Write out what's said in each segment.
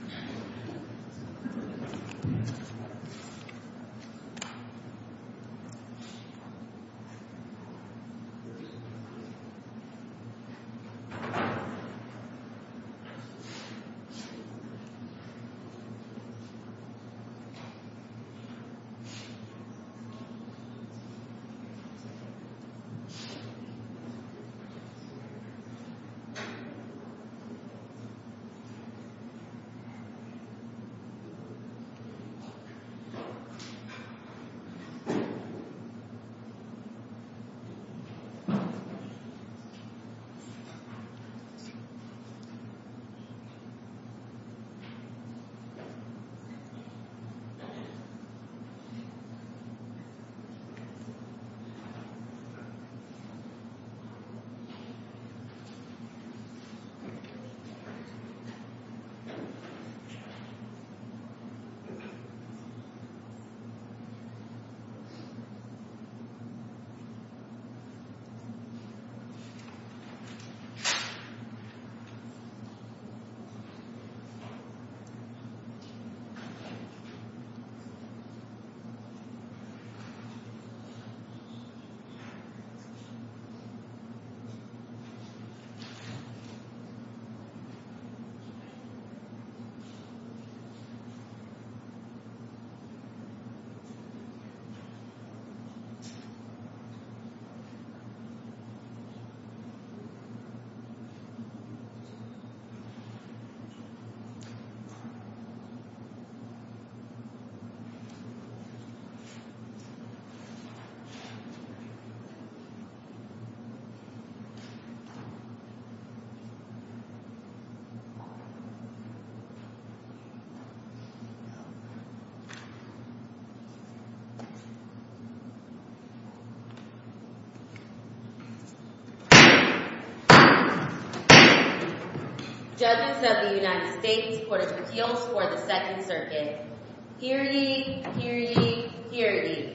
v. Stratfs, LLC v. Stratfs, LLC v. Stratfs, LLC v. Stratfs, LLC Judges of the United States Court of Appeals for the Second Circuit Purity, purity, purity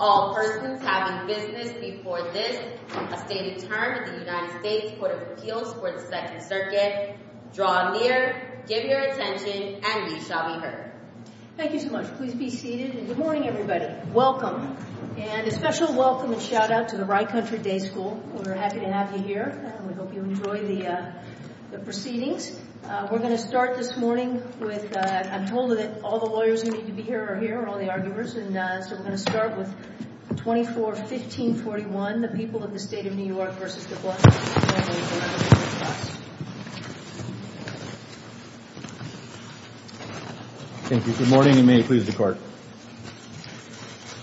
All persons having business before this a stated term in the United States Court of Appeals for the Second Circuit draw near, give your attention, and we shall be heard. Thank you so much. Please be seated. And good morning, everybody. Welcome. And a special welcome and shout-out to the Rye Country Day School. We're happy to have you here. We hope you enjoy the proceedings. We're going to start this morning with I'm told that all the lawyers who need to be here are here, all the arguers. And so we're going to start with 24-1541, when the people of the State of New York v. De Blasio formally eliminated the trust. Thank you. Good morning, and may it please the Court.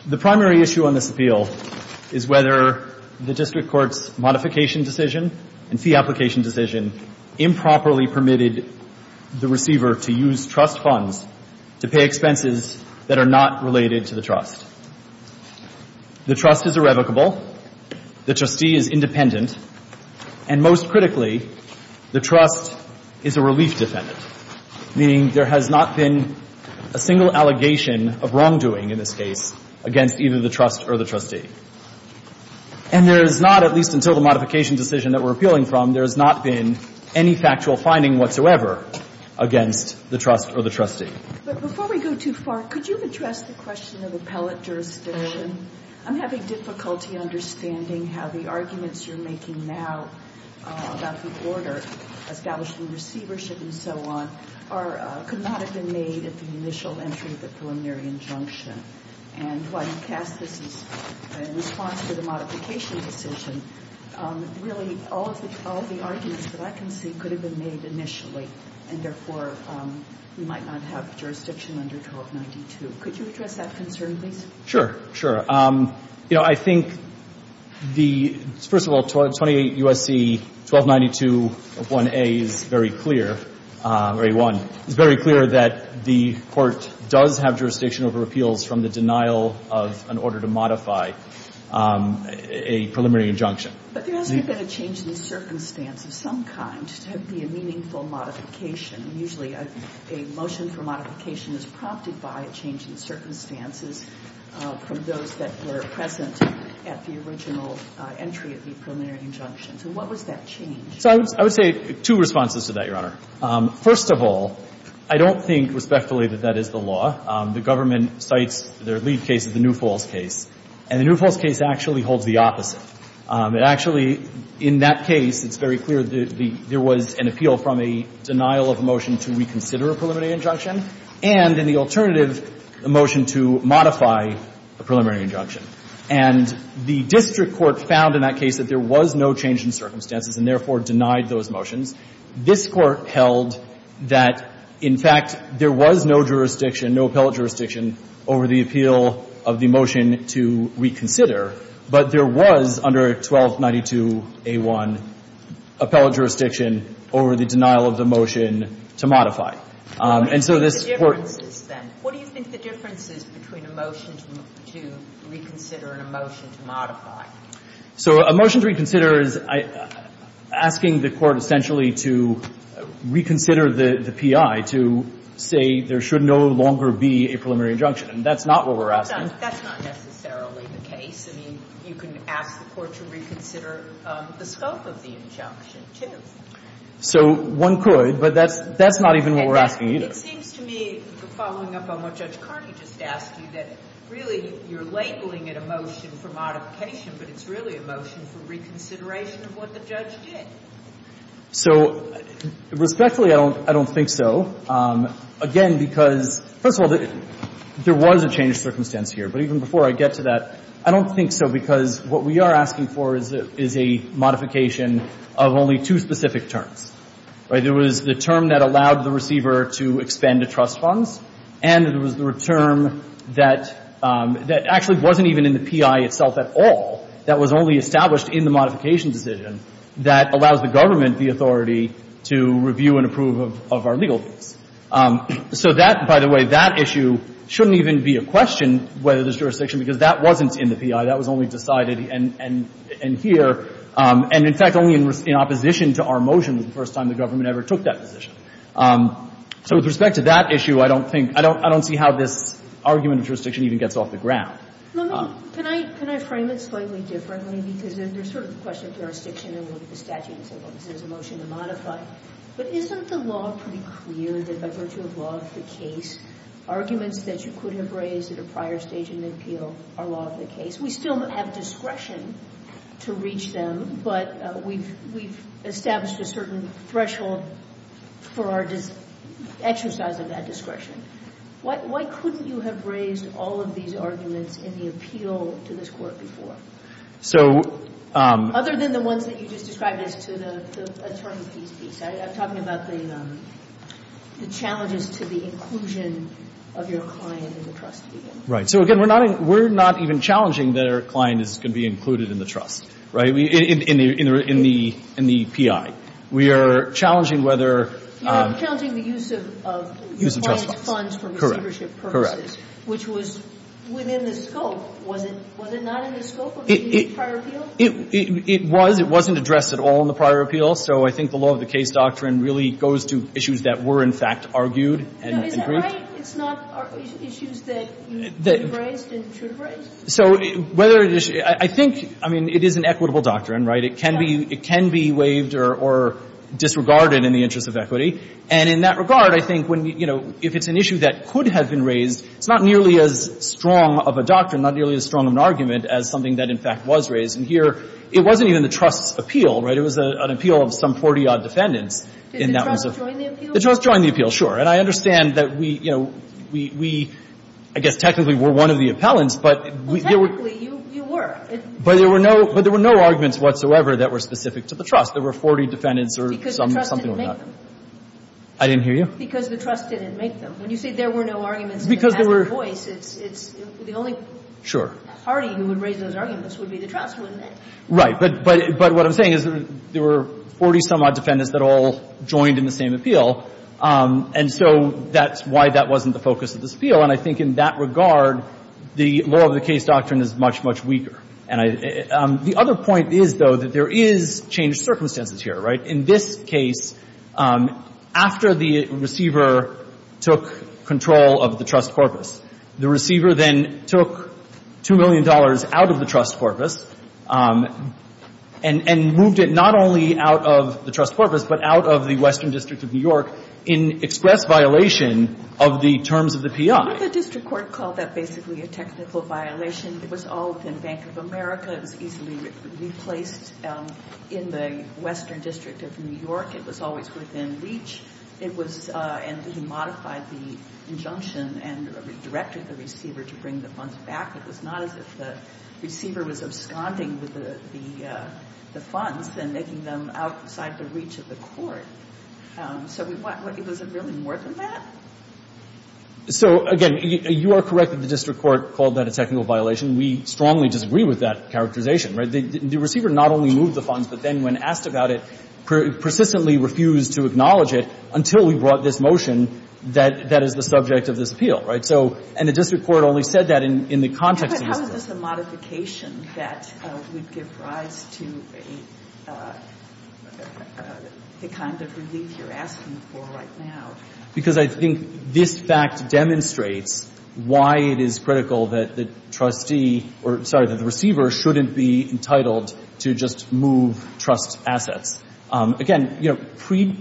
The primary issue on this appeal is whether the district court's modification decision and fee application decision improperly permitted the receiver to use trust funds to pay expenses that are not related to the trust. The trust is irrevocable. The trustee is independent. And most critically, the trust is a relief defendant, meaning there has not been a single allegation of wrongdoing in this case against either the trust or the trustee. And there has not, at least until the modification decision that we're appealing from, there has not been any factual finding whatsoever against the trust or the trustee. But before we go too far, could you address the question of appellate jurisdiction? I'm having difficulty understanding how the arguments you're making now about the order establishing receivership and so on could not have been made at the initial entry of the preliminary injunction. And while you cast this in response to the modification decision, really all of the arguments that I can see could have been made initially, and therefore we might not have jurisdiction under 1292. Could you address that concern, please? Sure, sure. You know, I think the, first of all, 28 U.S.C. 1292 of 1A is very clear, or 81, is very clear that the court does have jurisdiction over appeals from the denial of an order to modify a preliminary injunction. But there hasn't been a change in the circumstance of some kind to be a meaningful modification. Usually a motion for modification is prompted by a change in circumstances from those that were present at the original entry of the preliminary injunction. So what was that change? So I would say two responses to that, Your Honor. First of all, I don't think respectfully that that is the law. The government cites their lead case as the New Falls case. And the New Falls case actually holds the opposite. It actually, in that case, it's very clear that there was an appeal from a denial of a motion to reconsider a preliminary injunction and, in the alternative, a motion to modify a preliminary injunction. And the district court found in that case that there was no change in circumstances and therefore denied those motions. This Court held that, in fact, there was no jurisdiction, no appellate jurisdiction over the appeal of the motion to reconsider. But there was, under 1292A1, appellate jurisdiction over the denial of the motion to modify. And so this Court — What are the differences, then? What do you think the difference is between a motion to reconsider and a motion to modify? So a motion to reconsider is asking the Court essentially to reconsider the P.I., to say there should no longer be a preliminary injunction. And that's not what we're asking. That's not necessarily the case. I mean, you can ask the Court to reconsider the scope of the injunction, too. So one could, but that's not even what we're asking, either. It seems to me, following up on what Judge Carney just asked you, that really you're labeling it a motion for modification, but it's really a motion for reconsideration of what the judge did. So respectfully, I don't think so. Again, because, first of all, there was a changed circumstance here. But even before I get to that, I don't think so, because what we are asking for is a modification of only two specific terms, right? There was the term that allowed the receiver to expend the trust funds, and there was the term that actually wasn't even in the P.I. itself at all, that was only established in the modification decision, that allows the government the authority to review and approve of our legal views. So that, by the way, that issue shouldn't even be a question, whether there's jurisdiction, because that wasn't in the P.I. That was only decided in here, and in fact, only in opposition to our motion was the first time the government ever took that position. So with respect to that issue, I don't think, I don't see how this argument of jurisdiction even gets off the ground. Let me, can I frame it slightly differently, because there's sort of a question of jurisdiction, and we'll get the statute and so forth, and there's a motion to modify. But isn't the law pretty clear that by virtue of law of the case, arguments that you could have raised at a prior stage in an appeal are law of the case? We still have discretion to reach them, but we've established a certain threshold for our exercise of that discretion. Why couldn't you have raised all of these arguments in the appeal to this Court before? So Other than the ones that you just described as to the attorney fees piece. I'm talking about the challenges to the inclusion of your client in the trust. Right. So again, we're not even challenging that our client is going to be included in the trust, right, in the P.I. We are challenging whether You're challenging the use of Use of trust funds. Funds for receivership purposes. Which was within the scope. Was it not in the scope of the prior appeal? It was. It wasn't addressed at all in the prior appeal. So I think the law of the case doctrine really goes to issues that were, in fact, argued and agreed. No, is that right? It's not issues that you raised and should have raised? So whether it is, I think, I mean, it is an equitable doctrine, right? It can be waived or disregarded in the interest of equity. And in that regard, I think when, you know, if it's an issue that could have been raised, it's not nearly as strong of a doctrine, not nearly as strong of an argument as something that, in fact, was raised. And here, it wasn't even the trust's appeal, right? It was an appeal of some 40-odd defendants. Did the trust join the appeal? The trust joined the appeal, sure. And I understand that we, you know, we I guess technically were one of the appellants, but Well, technically, you were. But there were no arguments whatsoever that were specific to the trust. There were 40 defendants or something like that. Because the trust didn't make them. I didn't hear you. Because the trust didn't make them. When you say there were no arguments, it has no voice. It's the only party who would raise those arguments would be the trust, wouldn't it? Right. But what I'm saying is there were 40-some-odd defendants that all joined in the same appeal. And so that's why that wasn't the focus of this appeal. And I think in that regard, the law of the case doctrine is much, much weaker. The other point is, though, that there is changed circumstances here, right? In this case, after the receiver took control of the trust corpus, the receiver then took $2 million out of the trust corpus and moved it not only out of the trust corpus, but out of the Western District of New York in express violation of the terms of the P.I. The district court called that basically a technical violation. It was all within Bank of America. It was easily replaced in the Western District of New York. It was always within reach. It was — and he modified the injunction and directed the receiver to bring the funds back. It was not as if the receiver was absconding with the funds and making them outside the reach of the court. So we — was it really more than that? So, again, you are correct that the district court called that a technical violation. We strongly disagree with that characterization, right? The receiver not only moved the funds, but then when asked about it, persistently refused to acknowledge it until we brought this motion that is the subject of this appeal, right? So — and the district court only said that in the context of this case. But how is this a modification that would give rise to a — the kind of relief you're asking for right now? Because I think this fact demonstrates why it is critical that the trustee — or, sorry, that the receiver shouldn't be entitled to just move trust assets. Again, you know,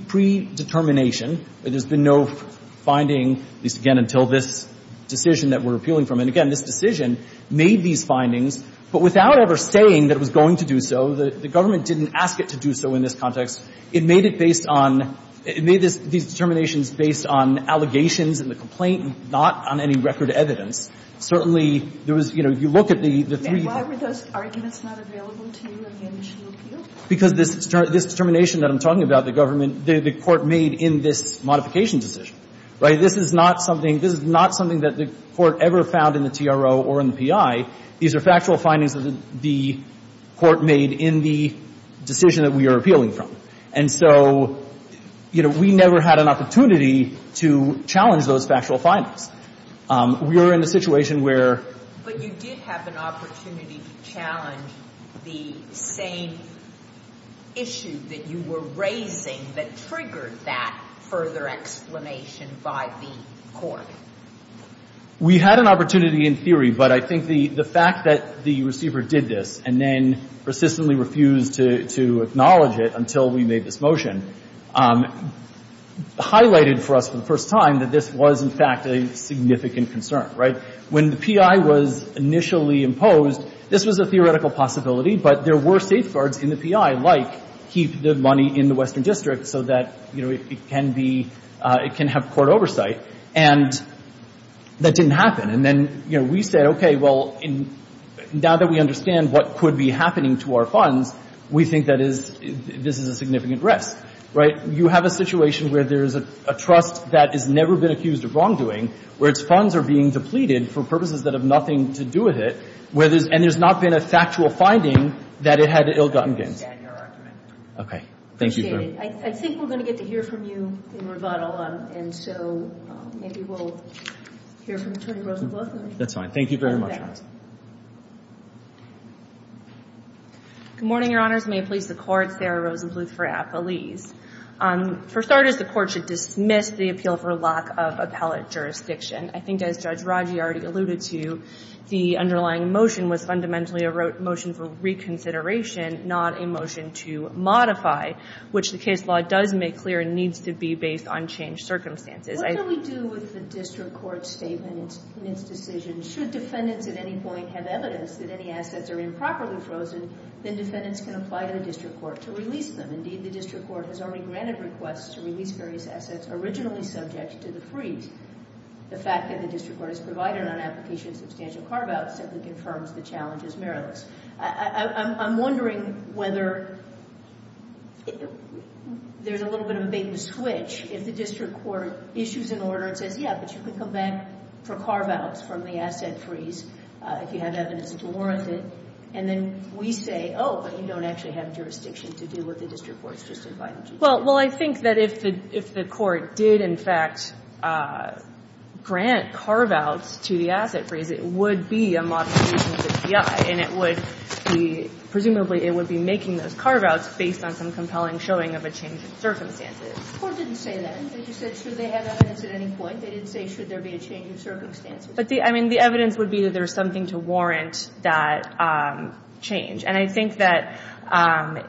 predetermination, there's been no finding, at least, again, until this decision that we're appealing from. And, again, this decision made these findings. But without ever saying that it was going to do so, the government didn't ask it to do so in this context. It made it based on — it made these determinations based on allegations in the complaint, not on any record evidence. Certainly, there was — you know, you look at the three — And why were those arguments not available to you in the initial appeal? Because this determination that I'm talking about, the government — the court made in this modification decision, right? This is not something — this is not something that the court ever found in the TRO or in the PI. These are factual findings that the court made in the decision that we are appealing from. And so, you know, we never had an opportunity to challenge those factual findings. We were in a situation where — But you did have an opportunity to challenge the same issue that you were raising that triggered that further explanation by the court. We had an opportunity in theory. But I think the fact that the receiver did this and then persistently refused to acknowledge it until we made this motion highlighted for us for the first time that this was, in fact, a significant concern, right? When the PI was initially imposed, this was a theoretical possibility. But there were safeguards in the PI, like keep the money in the Western District so that, you know, it can be — it can have court oversight. And that didn't happen. And then, you know, we said, okay, well, now that we understand what could be happening to our funds, we think that is — this is a significant risk, right? You have a situation where there is a trust that has never been accused of wrongdoing, where its funds are being depleted for purposes that have nothing to do with it, where there's — and there's not been a factual finding that it had ill-gotten gains. I understand your argument. Okay. Thank you, ma'am. I appreciate it. I think we're going to get to hear from you in rebuttal. And so maybe we'll hear from Attorney Rosenbluth. That's fine. Thank you very much. Ms. Reynolds. Good morning, Your Honors. May it please the Court, Sarah Rosenbluth for Appalese. For starters, the Court should dismiss the appeal for lack of appellate jurisdiction. I think, as Judge Raji already alluded to, the underlying motion was fundamentally a motion for reconsideration, not a motion to modify, which the case law does make clear and needs to be based on changed circumstances. What do we do with the district court's statement in its decision? Should defendants at any point have evidence that any assets are improperly frozen, then defendants can apply to the district court to release them. Indeed, the district court has already granted requests to release various assets originally subject to the freeze. The fact that the district court has provided an application of substantial carve-outs simply confirms the challenge is meritless. I'm wondering whether there's a little bit of a bait-and-switch if the district court issues an order and says, yeah, but you can come back for carve-outs from the asset freeze if you have evidence to warrant it, and then we say, oh, but you don't actually have jurisdiction to do what the district court's just invited you to do. Well, I think that if the court did, in fact, grant carve-outs to the asset freeze, it would be a modification to the DI, and it would be, presumably, it would be making those carve-outs based on some compelling showing of a change in circumstances. The Court didn't say that. You said, should they have evidence at any point. They didn't say, should there be a change in circumstances. But the, I mean, the evidence would be that there's something to warrant that change. And I think that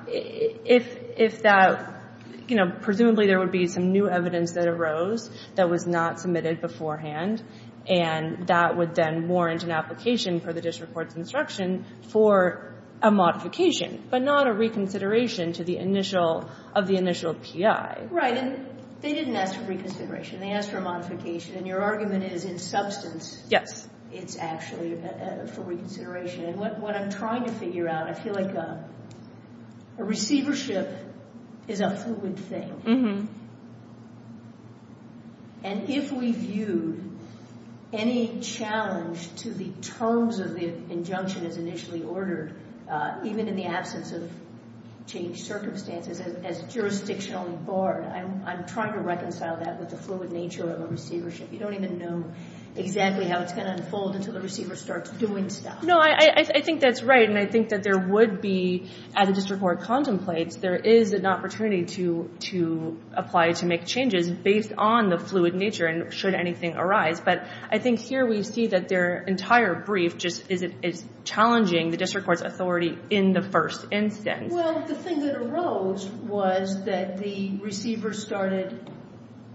if that, you know, presumably there would be some new evidence that arose that was not submitted beforehand, and that would then warrant an application for the district court's instruction for a modification, but not a reconsideration to the initial, of the initial PI. Right. And they didn't ask for reconsideration. They asked for a modification. And your argument is in substance. Yes. It's actually for reconsideration. And what I'm trying to figure out, I feel like a receivership is a fluid thing. And if we viewed any challenge to the terms of the injunction as initially ordered, even in the absence of changed circumstances, as jurisdictionally barred, I'm trying to reconcile that with the fluid nature of a receivership. You don't even know exactly how it's going to unfold until the receiver starts doing stuff. No, I think that's right. And I think that there would be, as the district court contemplates, there is an opportunity to apply to make changes based on the fluid nature, and should anything arise. But I think here we see that their entire brief just is challenging the district court's authority in the first instance. Well, the thing that arose was that the receiver started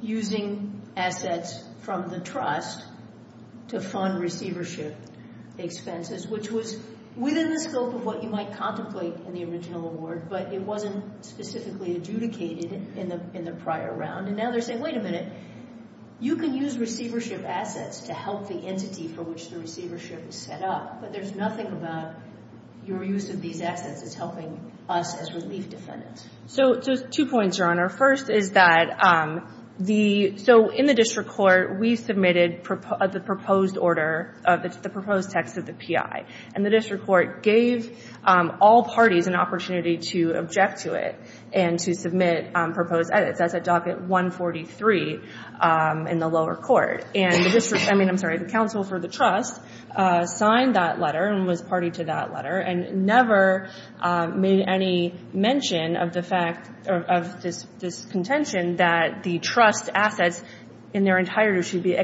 using assets from the trust to fund receivership expenses, which was within the scope of what you might contemplate in the original award, but it wasn't specifically adjudicated in the prior round. And now they're saying, wait a minute, you can use receivership assets to help the entity for which the receivership is set up, but there's nothing about your use of these assets as helping us as relief defendants. So two points, Your Honor. First is that in the district court we submitted the proposed order, the proposed text of the PI, and the district court gave all parties an opportunity to object to it and to submit proposed edits. That's at docket 143 in the lower court. I'm sorry, the counsel for the trust signed that letter and was party to that letter and never made any mention of this contention that the trust assets in their entirety,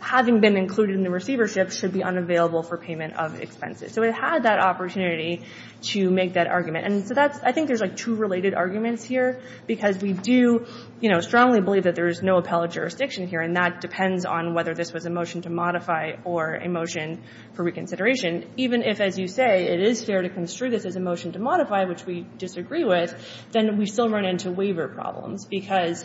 having been included in the receivership, should be unavailable for payment of expenses. So it had that opportunity to make that argument. And I think there's two related arguments here, because we do strongly believe that there is no appellate jurisdiction here, and that depends on whether this was a motion to modify or a motion for reconsideration. Even if, as you say, it is fair to construe this as a motion to modify, which we disagree with, then we still run into waiver problems because,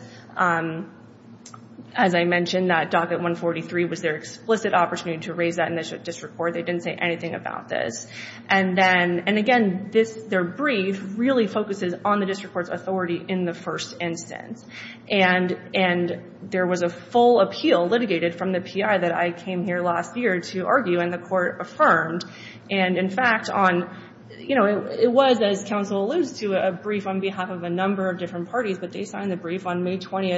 as I mentioned, that docket 143 was their explicit opportunity to raise that in the district court. They didn't say anything about this. And again, their brief really focuses on the district court's authority in the first instance. And there was a full appeal litigated from the PI that I came here last year to argue, and the court affirmed. And, in fact, it was, as counsel alludes to, a brief on behalf of a number of different parties, but they signed the brief on May 20,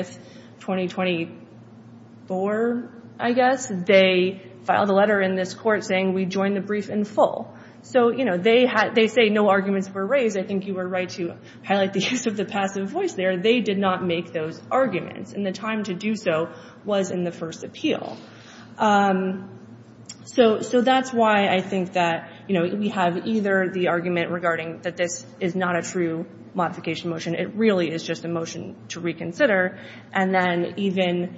2024, I guess. They filed a letter in this court saying, we join the brief in full. So they say no arguments were raised. I think you were right to highlight the use of the passive voice there. They did not make those arguments, and the time to do so was in the first appeal. So that's why I think that, you know, we have either the argument regarding that this is not a true modification motion, it really is just a motion to reconsider, and then even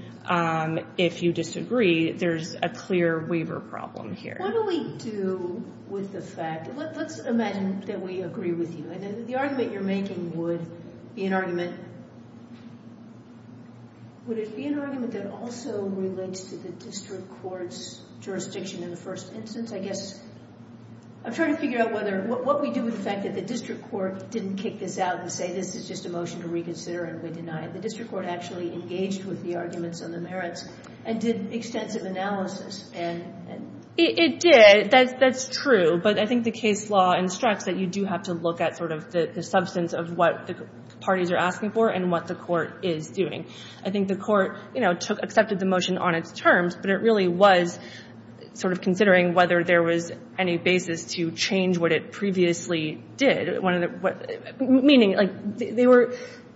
if you disagree, there's a clear waiver problem here. What do we do with the fact? Let's imagine that we agree with you. The argument you're making would be an argument that also relates to the district court's jurisdiction, in the first instance, I guess. I'm trying to figure out what we do with the fact that the district court didn't kick this out and say this is just a motion to reconsider and we deny it. The district court actually engaged with the arguments on the merits and did extensive analysis. It did. That's true. But I think the case law instructs that you do have to look at sort of the substance of what the parties are asking for and what the court is doing. I think the court, you know, accepted the motion on its terms, but it really was sort of considering whether there was any basis to change what it previously did. Meaning, like, they were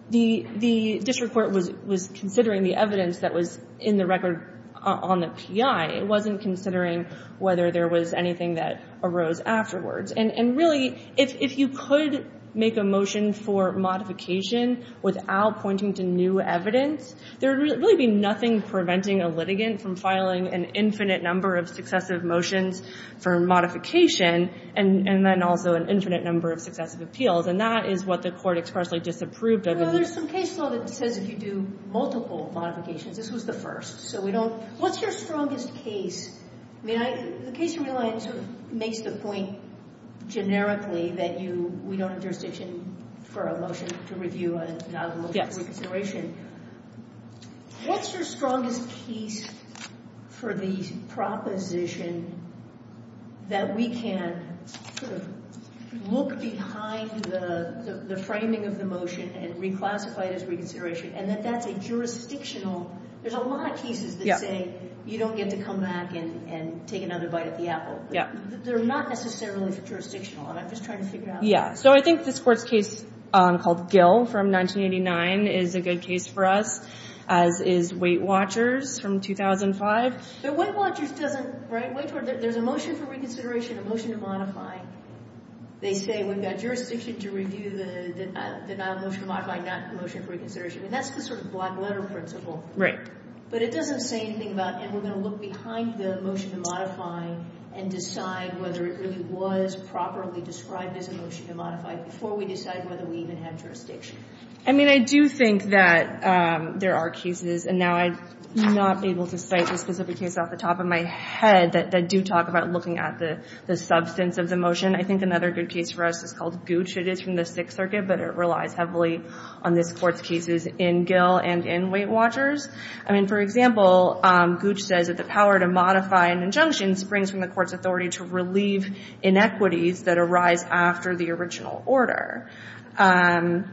the district court was considering the evidence that was in the record on the P.I. It wasn't considering whether there was anything that arose afterwards. And really, if you could make a motion for modification without pointing to new evidence, there would really be nothing preventing a litigant from filing an infinite number of successive motions for modification and then also an infinite number of successive appeals. And that is what the court expressly disapproved of. Well, there's some case law that says if you do multiple modifications. This was the first. So we don't. What's your strongest case? I mean, the case of Reliance sort of makes the point generically that we don't have jurisdiction for a motion to review and not a motion for reconsideration. What's your strongest case for the proposition that we can sort of look behind the framing of the motion and reclassify it as reconsideration and that that's a jurisdictional. There's a lot of cases that say you don't get to come back and take another bite at the apple. Yeah. They're not necessarily jurisdictional. I'm just trying to figure out. Yeah. So I think this court's case called Gill from 1989 is a good case for us, as is Weight Watchers from 2005. But Weight Watchers doesn't, right? There's a motion for reconsideration, a motion to modify. They say we've got jurisdiction to review the denial of motion to modify, not a motion for reconsideration. I mean, that's the sort of black letter principle. But it doesn't say anything about, and we're going to look behind the motion to modify and decide whether it really was properly described as a motion to modify before we decide whether we even have jurisdiction. I mean, I do think that there are cases, and now I'm not able to cite a specific case off the top of my head, that do talk about looking at the substance of the motion. I think another good case for us is called Gooch. It is from the Sixth Circuit, but it relies heavily on this court's cases in Gill and in Weight Watchers. I mean, for example, Gooch says that the power to modify an injunction springs from the court's authority to relieve inequities that arise after the original order. And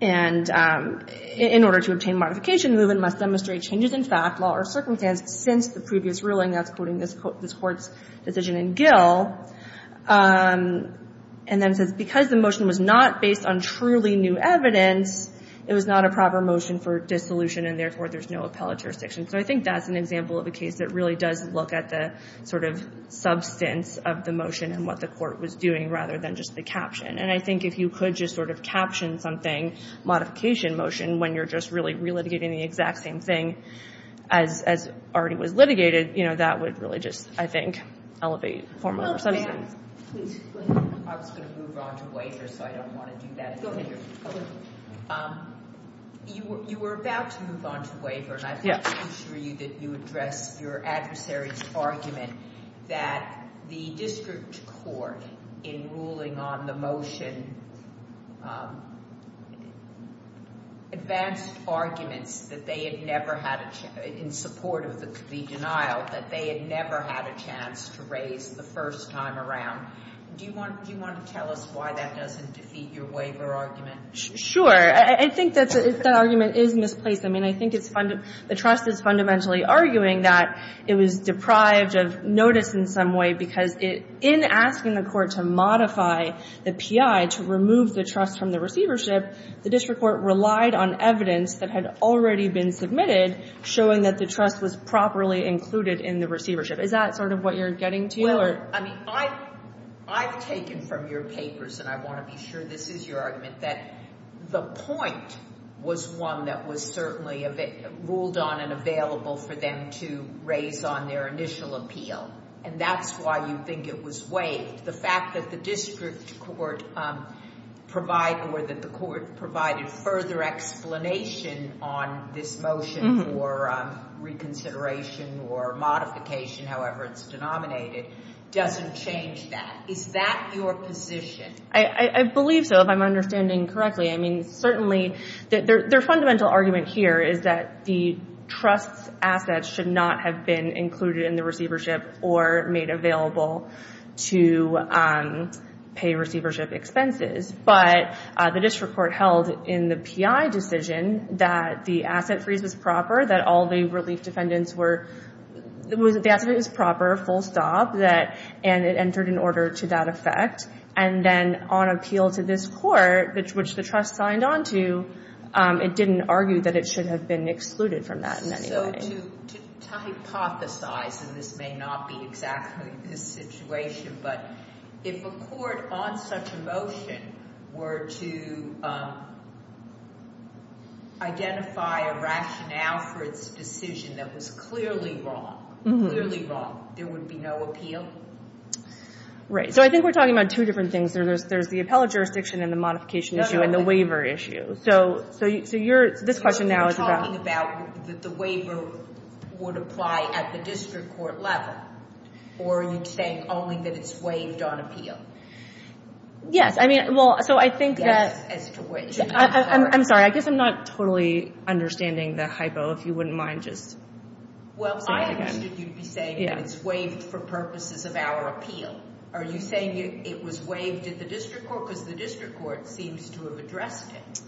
in order to obtain modification, the movement must demonstrate changes in fact, law, or circumstance since the previous ruling that's quoting this court's decision in Gill. And then it says, because the motion was not based on truly new evidence, it was not a proper motion for dissolution, and therefore there's no appellate jurisdiction. So I think that's an example of a case that really does look at the sort of substance of the motion and what the court was doing rather than just the caption. And I think if you could just sort of caption something, modification motion, when you're just really relitigating the exact same thing as already was litigated, you know, that would really just, I think, elevate the form of a decision. No, ma'am. Please, go ahead. I was going to move on to waiver, so I don't want to do that. Go ahead. You were about to move on to waiver, and I'd like to assure you that you addressed your adversary's argument that the district court, in ruling on the motion, advanced arguments that they had never had, in support of the denial, that they had never had a chance to raise the first time around. Do you want to tell us why that doesn't defeat your waiver argument? Sure. I think that argument is misplaced. I mean, I think the trust is fundamentally arguing that it was deprived of notice in some way because in asking the court to modify the PI to remove the trust from the receivership, the district court relied on evidence that had already been submitted showing that the trust was properly included in the receivership. Is that sort of what you're getting to? Well, I mean, I've taken from your papers, and I want to be sure this is your argument, that the point was one that was certainly ruled on and available for them to raise on their initial appeal. And that's why you think it was waived. The fact that the district court provided further explanation on this motion for reconsideration or modification, however it's denominated, doesn't change that. Is that your position? I believe so, if I'm understanding correctly. I mean, certainly their fundamental argument here is that the trust's assets should not have been included in the receivership or made available to pay receivership expenses. But the district court held in the PI decision that the asset freeze was proper, that all the relief defendants were—the asset freeze was proper, full stop, and it entered in order to that effect. And then on appeal to this court, which the trust signed on to, it didn't argue that it should have been excluded from that in any way. So to hypothesize, and this may not be exactly the situation, but if a court on such a motion were to identify a rationale for its decision that was clearly wrong, clearly wrong, there would be no appeal? Right. So I think we're talking about two different things. There's the appellate jurisdiction and the modification issue and the waiver issue. So this question now is about— The waiver would apply at the district court level, or are you saying only that it's waived on appeal? Yes. I mean, well, so I think that— Yes, as to which. I'm sorry. I guess I'm not totally understanding the hypo. If you wouldn't mind just saying it again. Well, I understood you'd be saying that it's waived for purposes of our appeal. Are you saying it was waived at the district court? Because the district court seems to have addressed it.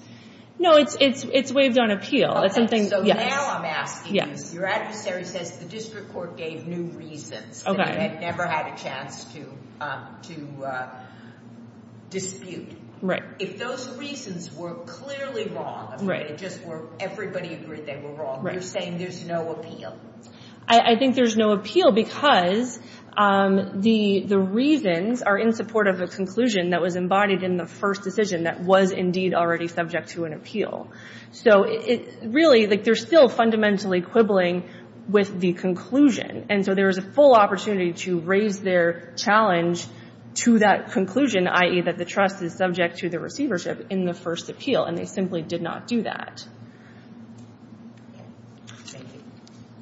No, it's waived on appeal. Okay, so now I'm asking you, your adversary says the district court gave new reasons that it had never had a chance to dispute. Right. If those reasons were clearly wrong, I mean, it just were everybody agreed they were wrong, you're saying there's no appeal? I think there's no appeal because the reasons are in support of a conclusion that was embodied in the first decision that was indeed already subject to an appeal. So really, they're still fundamentally quibbling with the conclusion, and so there is a full opportunity to raise their challenge to that conclusion, i.e., that the trust is subject to the receivership in the first appeal, and they simply did not do that.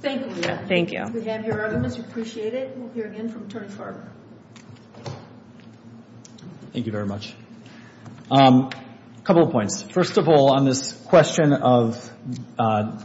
Thank you. Thank you. We have your arguments. We appreciate it. We'll hear again from Attorney Farber. Thank you very much. A couple of points. First of all, on this question of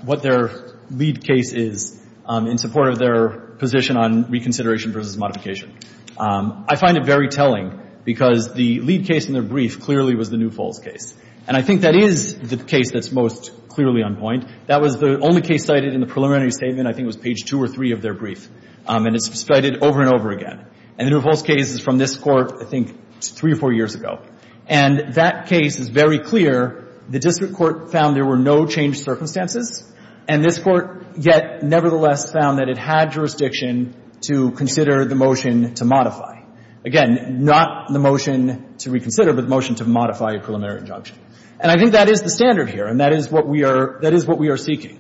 what their lead case is in support of their position on reconsideration versus modification, I find it very telling because the lead case in their brief clearly was the New Falls case, and I think that is the case that's most clearly on point. That was the only case cited in the preliminary statement. I think it was page two or three of their brief, and it's cited over and over again. And the New Falls case is from this Court, I think, three or four years ago, and that case is very clear. The district court found there were no changed circumstances, and this Court yet nevertheless found that it had jurisdiction to consider the motion to modify. Again, not the motion to reconsider, but the motion to modify a preliminary injunction. And I think that is the standard here, and that is what we are seeking.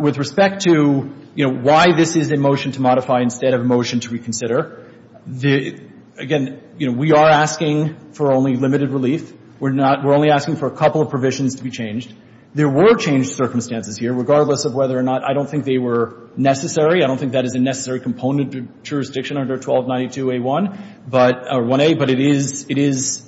With respect to, you know, why this is a motion to modify instead of a motion to reconsider, again, you know, we are asking for only limited relief. We're not – we're only asking for a couple of provisions to be changed. There were changed circumstances here, regardless of whether or not – I don't think they were necessary. I don't think that is a necessary component to jurisdiction under 1292A1, but – or 1A, but it is – it is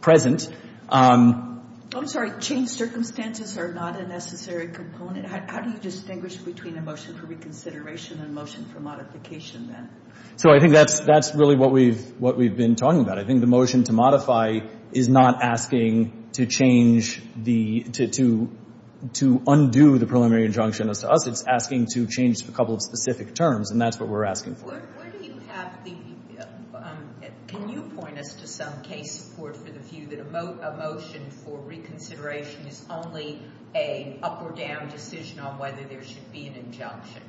present. I'm sorry. Changed circumstances are not a necessary component. How do you distinguish between a motion for reconsideration and a motion for modification, then? So I think that's really what we've been talking about. I think the motion to modify is not asking to change the – to undo the preliminary injunction as to us. It's asking to change a couple of specific terms, and that's what we're asking for. Where do you have the – can you point us to some case support for the view that a motion for reconsideration is only an up-or-down decision on whether there should be an injunction?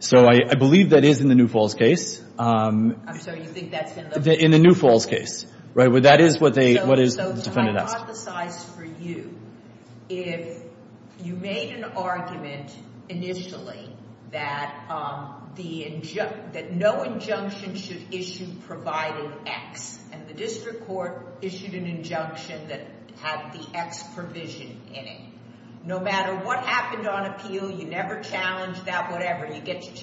So I believe that is in the New Falls case. I'm sorry. You think that's been looked at? In the New Falls case, right, where that is what they – what is the defendant asked. So to hypothesize for you, if you made an argument initially that the – that no injunction should issue provided X, and the district court issued an injunction that had the X provision in it, no matter what happened on appeal, you never challenged that whatever. You get to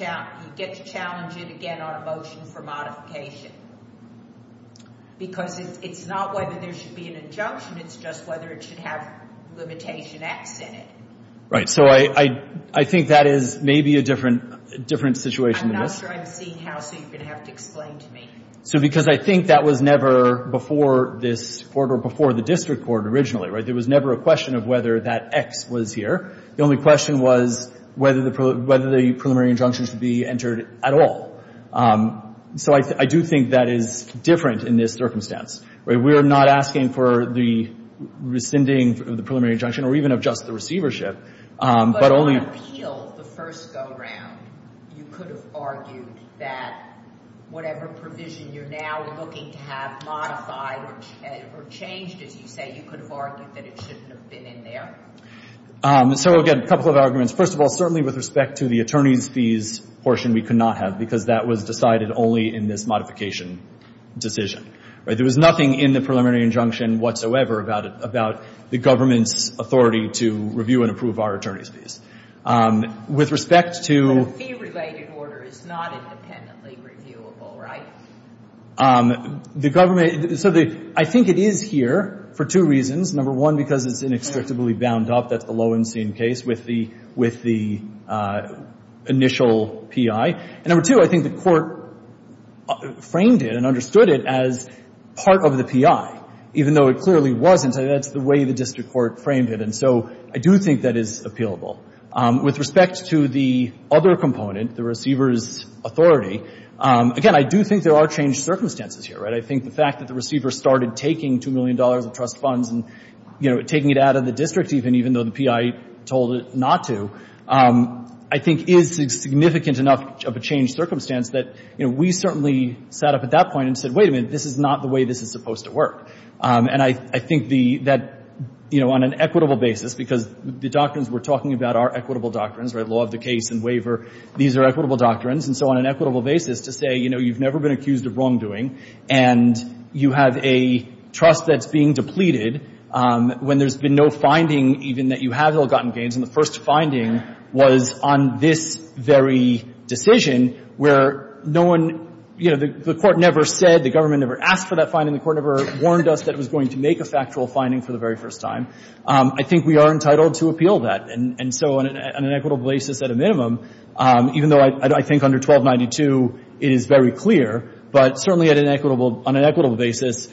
challenge it again on a motion for modification. Because it's not whether there should be an injunction. It's just whether it should have limitation X in it. Right. So I think that is maybe a different situation than this. I'm not sure I'm seeing how, so you're going to have to explain to me. So because I think that was never before this court or before the district court originally. There was never a question of whether that X was here. The only question was whether the preliminary injunction should be entered at all. So I do think that is different in this circumstance. We're not asking for the rescinding of the preliminary injunction or even of just the receivership. But on appeal, the first go-round, you could have argued that whatever provision you're now looking to have modified or changed, as you say, you could have argued that it shouldn't have been in there. So, again, a couple of arguments. First of all, certainly with respect to the attorney's fees portion we could not have because that was decided only in this modification decision. There was nothing in the preliminary injunction whatsoever about the government's authority to review and approve our attorney's fees. With respect to... But a fee-related order is not independently reviewable, right? The government... So I think it is here for two reasons. Number one, because it's inextricably bound up. That's the Lowenstein case with the initial PI. And number two, I think the court framed it and understood it as part of the PI, even though it clearly wasn't. That's the way the district court framed it. And so I do think that is appealable. With respect to the other component, the receiver's authority, again, I do think there are changed circumstances here, right? I think the fact that the receiver started taking $2 million of trust funds and taking it out of the district even, even though the PI told it not to, I think is significant enough of a changed circumstance that we certainly sat up at that point and said, wait a minute, this is not the way this is supposed to work. And I think that, you know, on an equitable basis, because the doctrines we're talking about are equitable doctrines, right? Law of the case and waiver, these are equitable doctrines. And so on an equitable basis to say, you know, you've never been accused of wrongdoing and you have a trust that's being depleted when there's been no finding, even that you have ill-gotten gains, and the first finding was on this very decision where no one, you know, the court never said, the government never asked for that finding, the court never warned us that it was going to make a factual finding for the very first time. I think we are entitled to appeal that. And so on an equitable basis at a minimum, even though I think under 1292 it is very clear, but certainly on an equitable basis,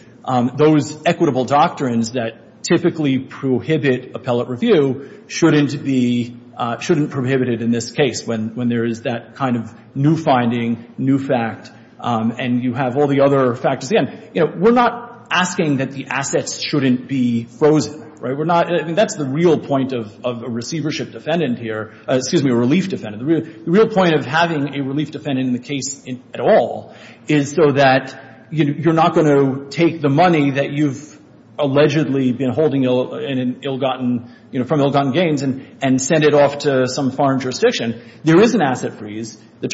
those equitable doctrines that typically prohibit appellate review shouldn't be, shouldn't prohibit it in this case when there is that kind of new finding, new fact, and you have all the other factors. Again, you know, we're not asking that the assets shouldn't be frozen, right? We're not, I mean, that's the real point of a receivership defendant here, excuse me, a relief defendant. The real point of having a relief defendant in the case at all is so that you're not going to take the money that you've allegedly been holding in an ill-gotten, you know, from ill-gotten gains and send it off to some foreign jurisdiction. There is an asset freeze. The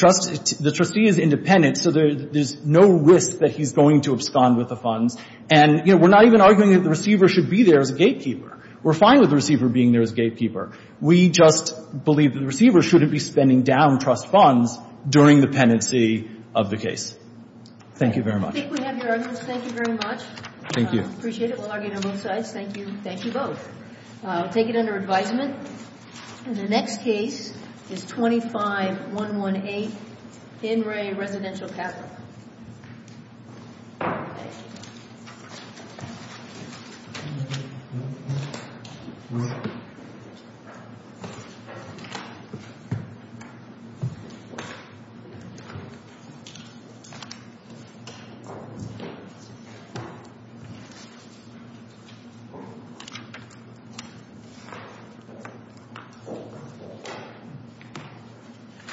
trustee is independent, so there's no risk that he's going to abscond with the funds. And, you know, we're not even arguing that the receiver should be there as a gatekeeper. We're fine with the receiver being there as a gatekeeper. We just believe that the receiver shouldn't be spending down trust funds during the penancy of the case. Thank you very much. I think we have your arguments. Thank you very much. Thank you. I appreciate it. We'll argue on both sides. Thank you. Thank you both. I'll take it under advisement. And the next case is 25118, Henry Residential Capital. Thank you.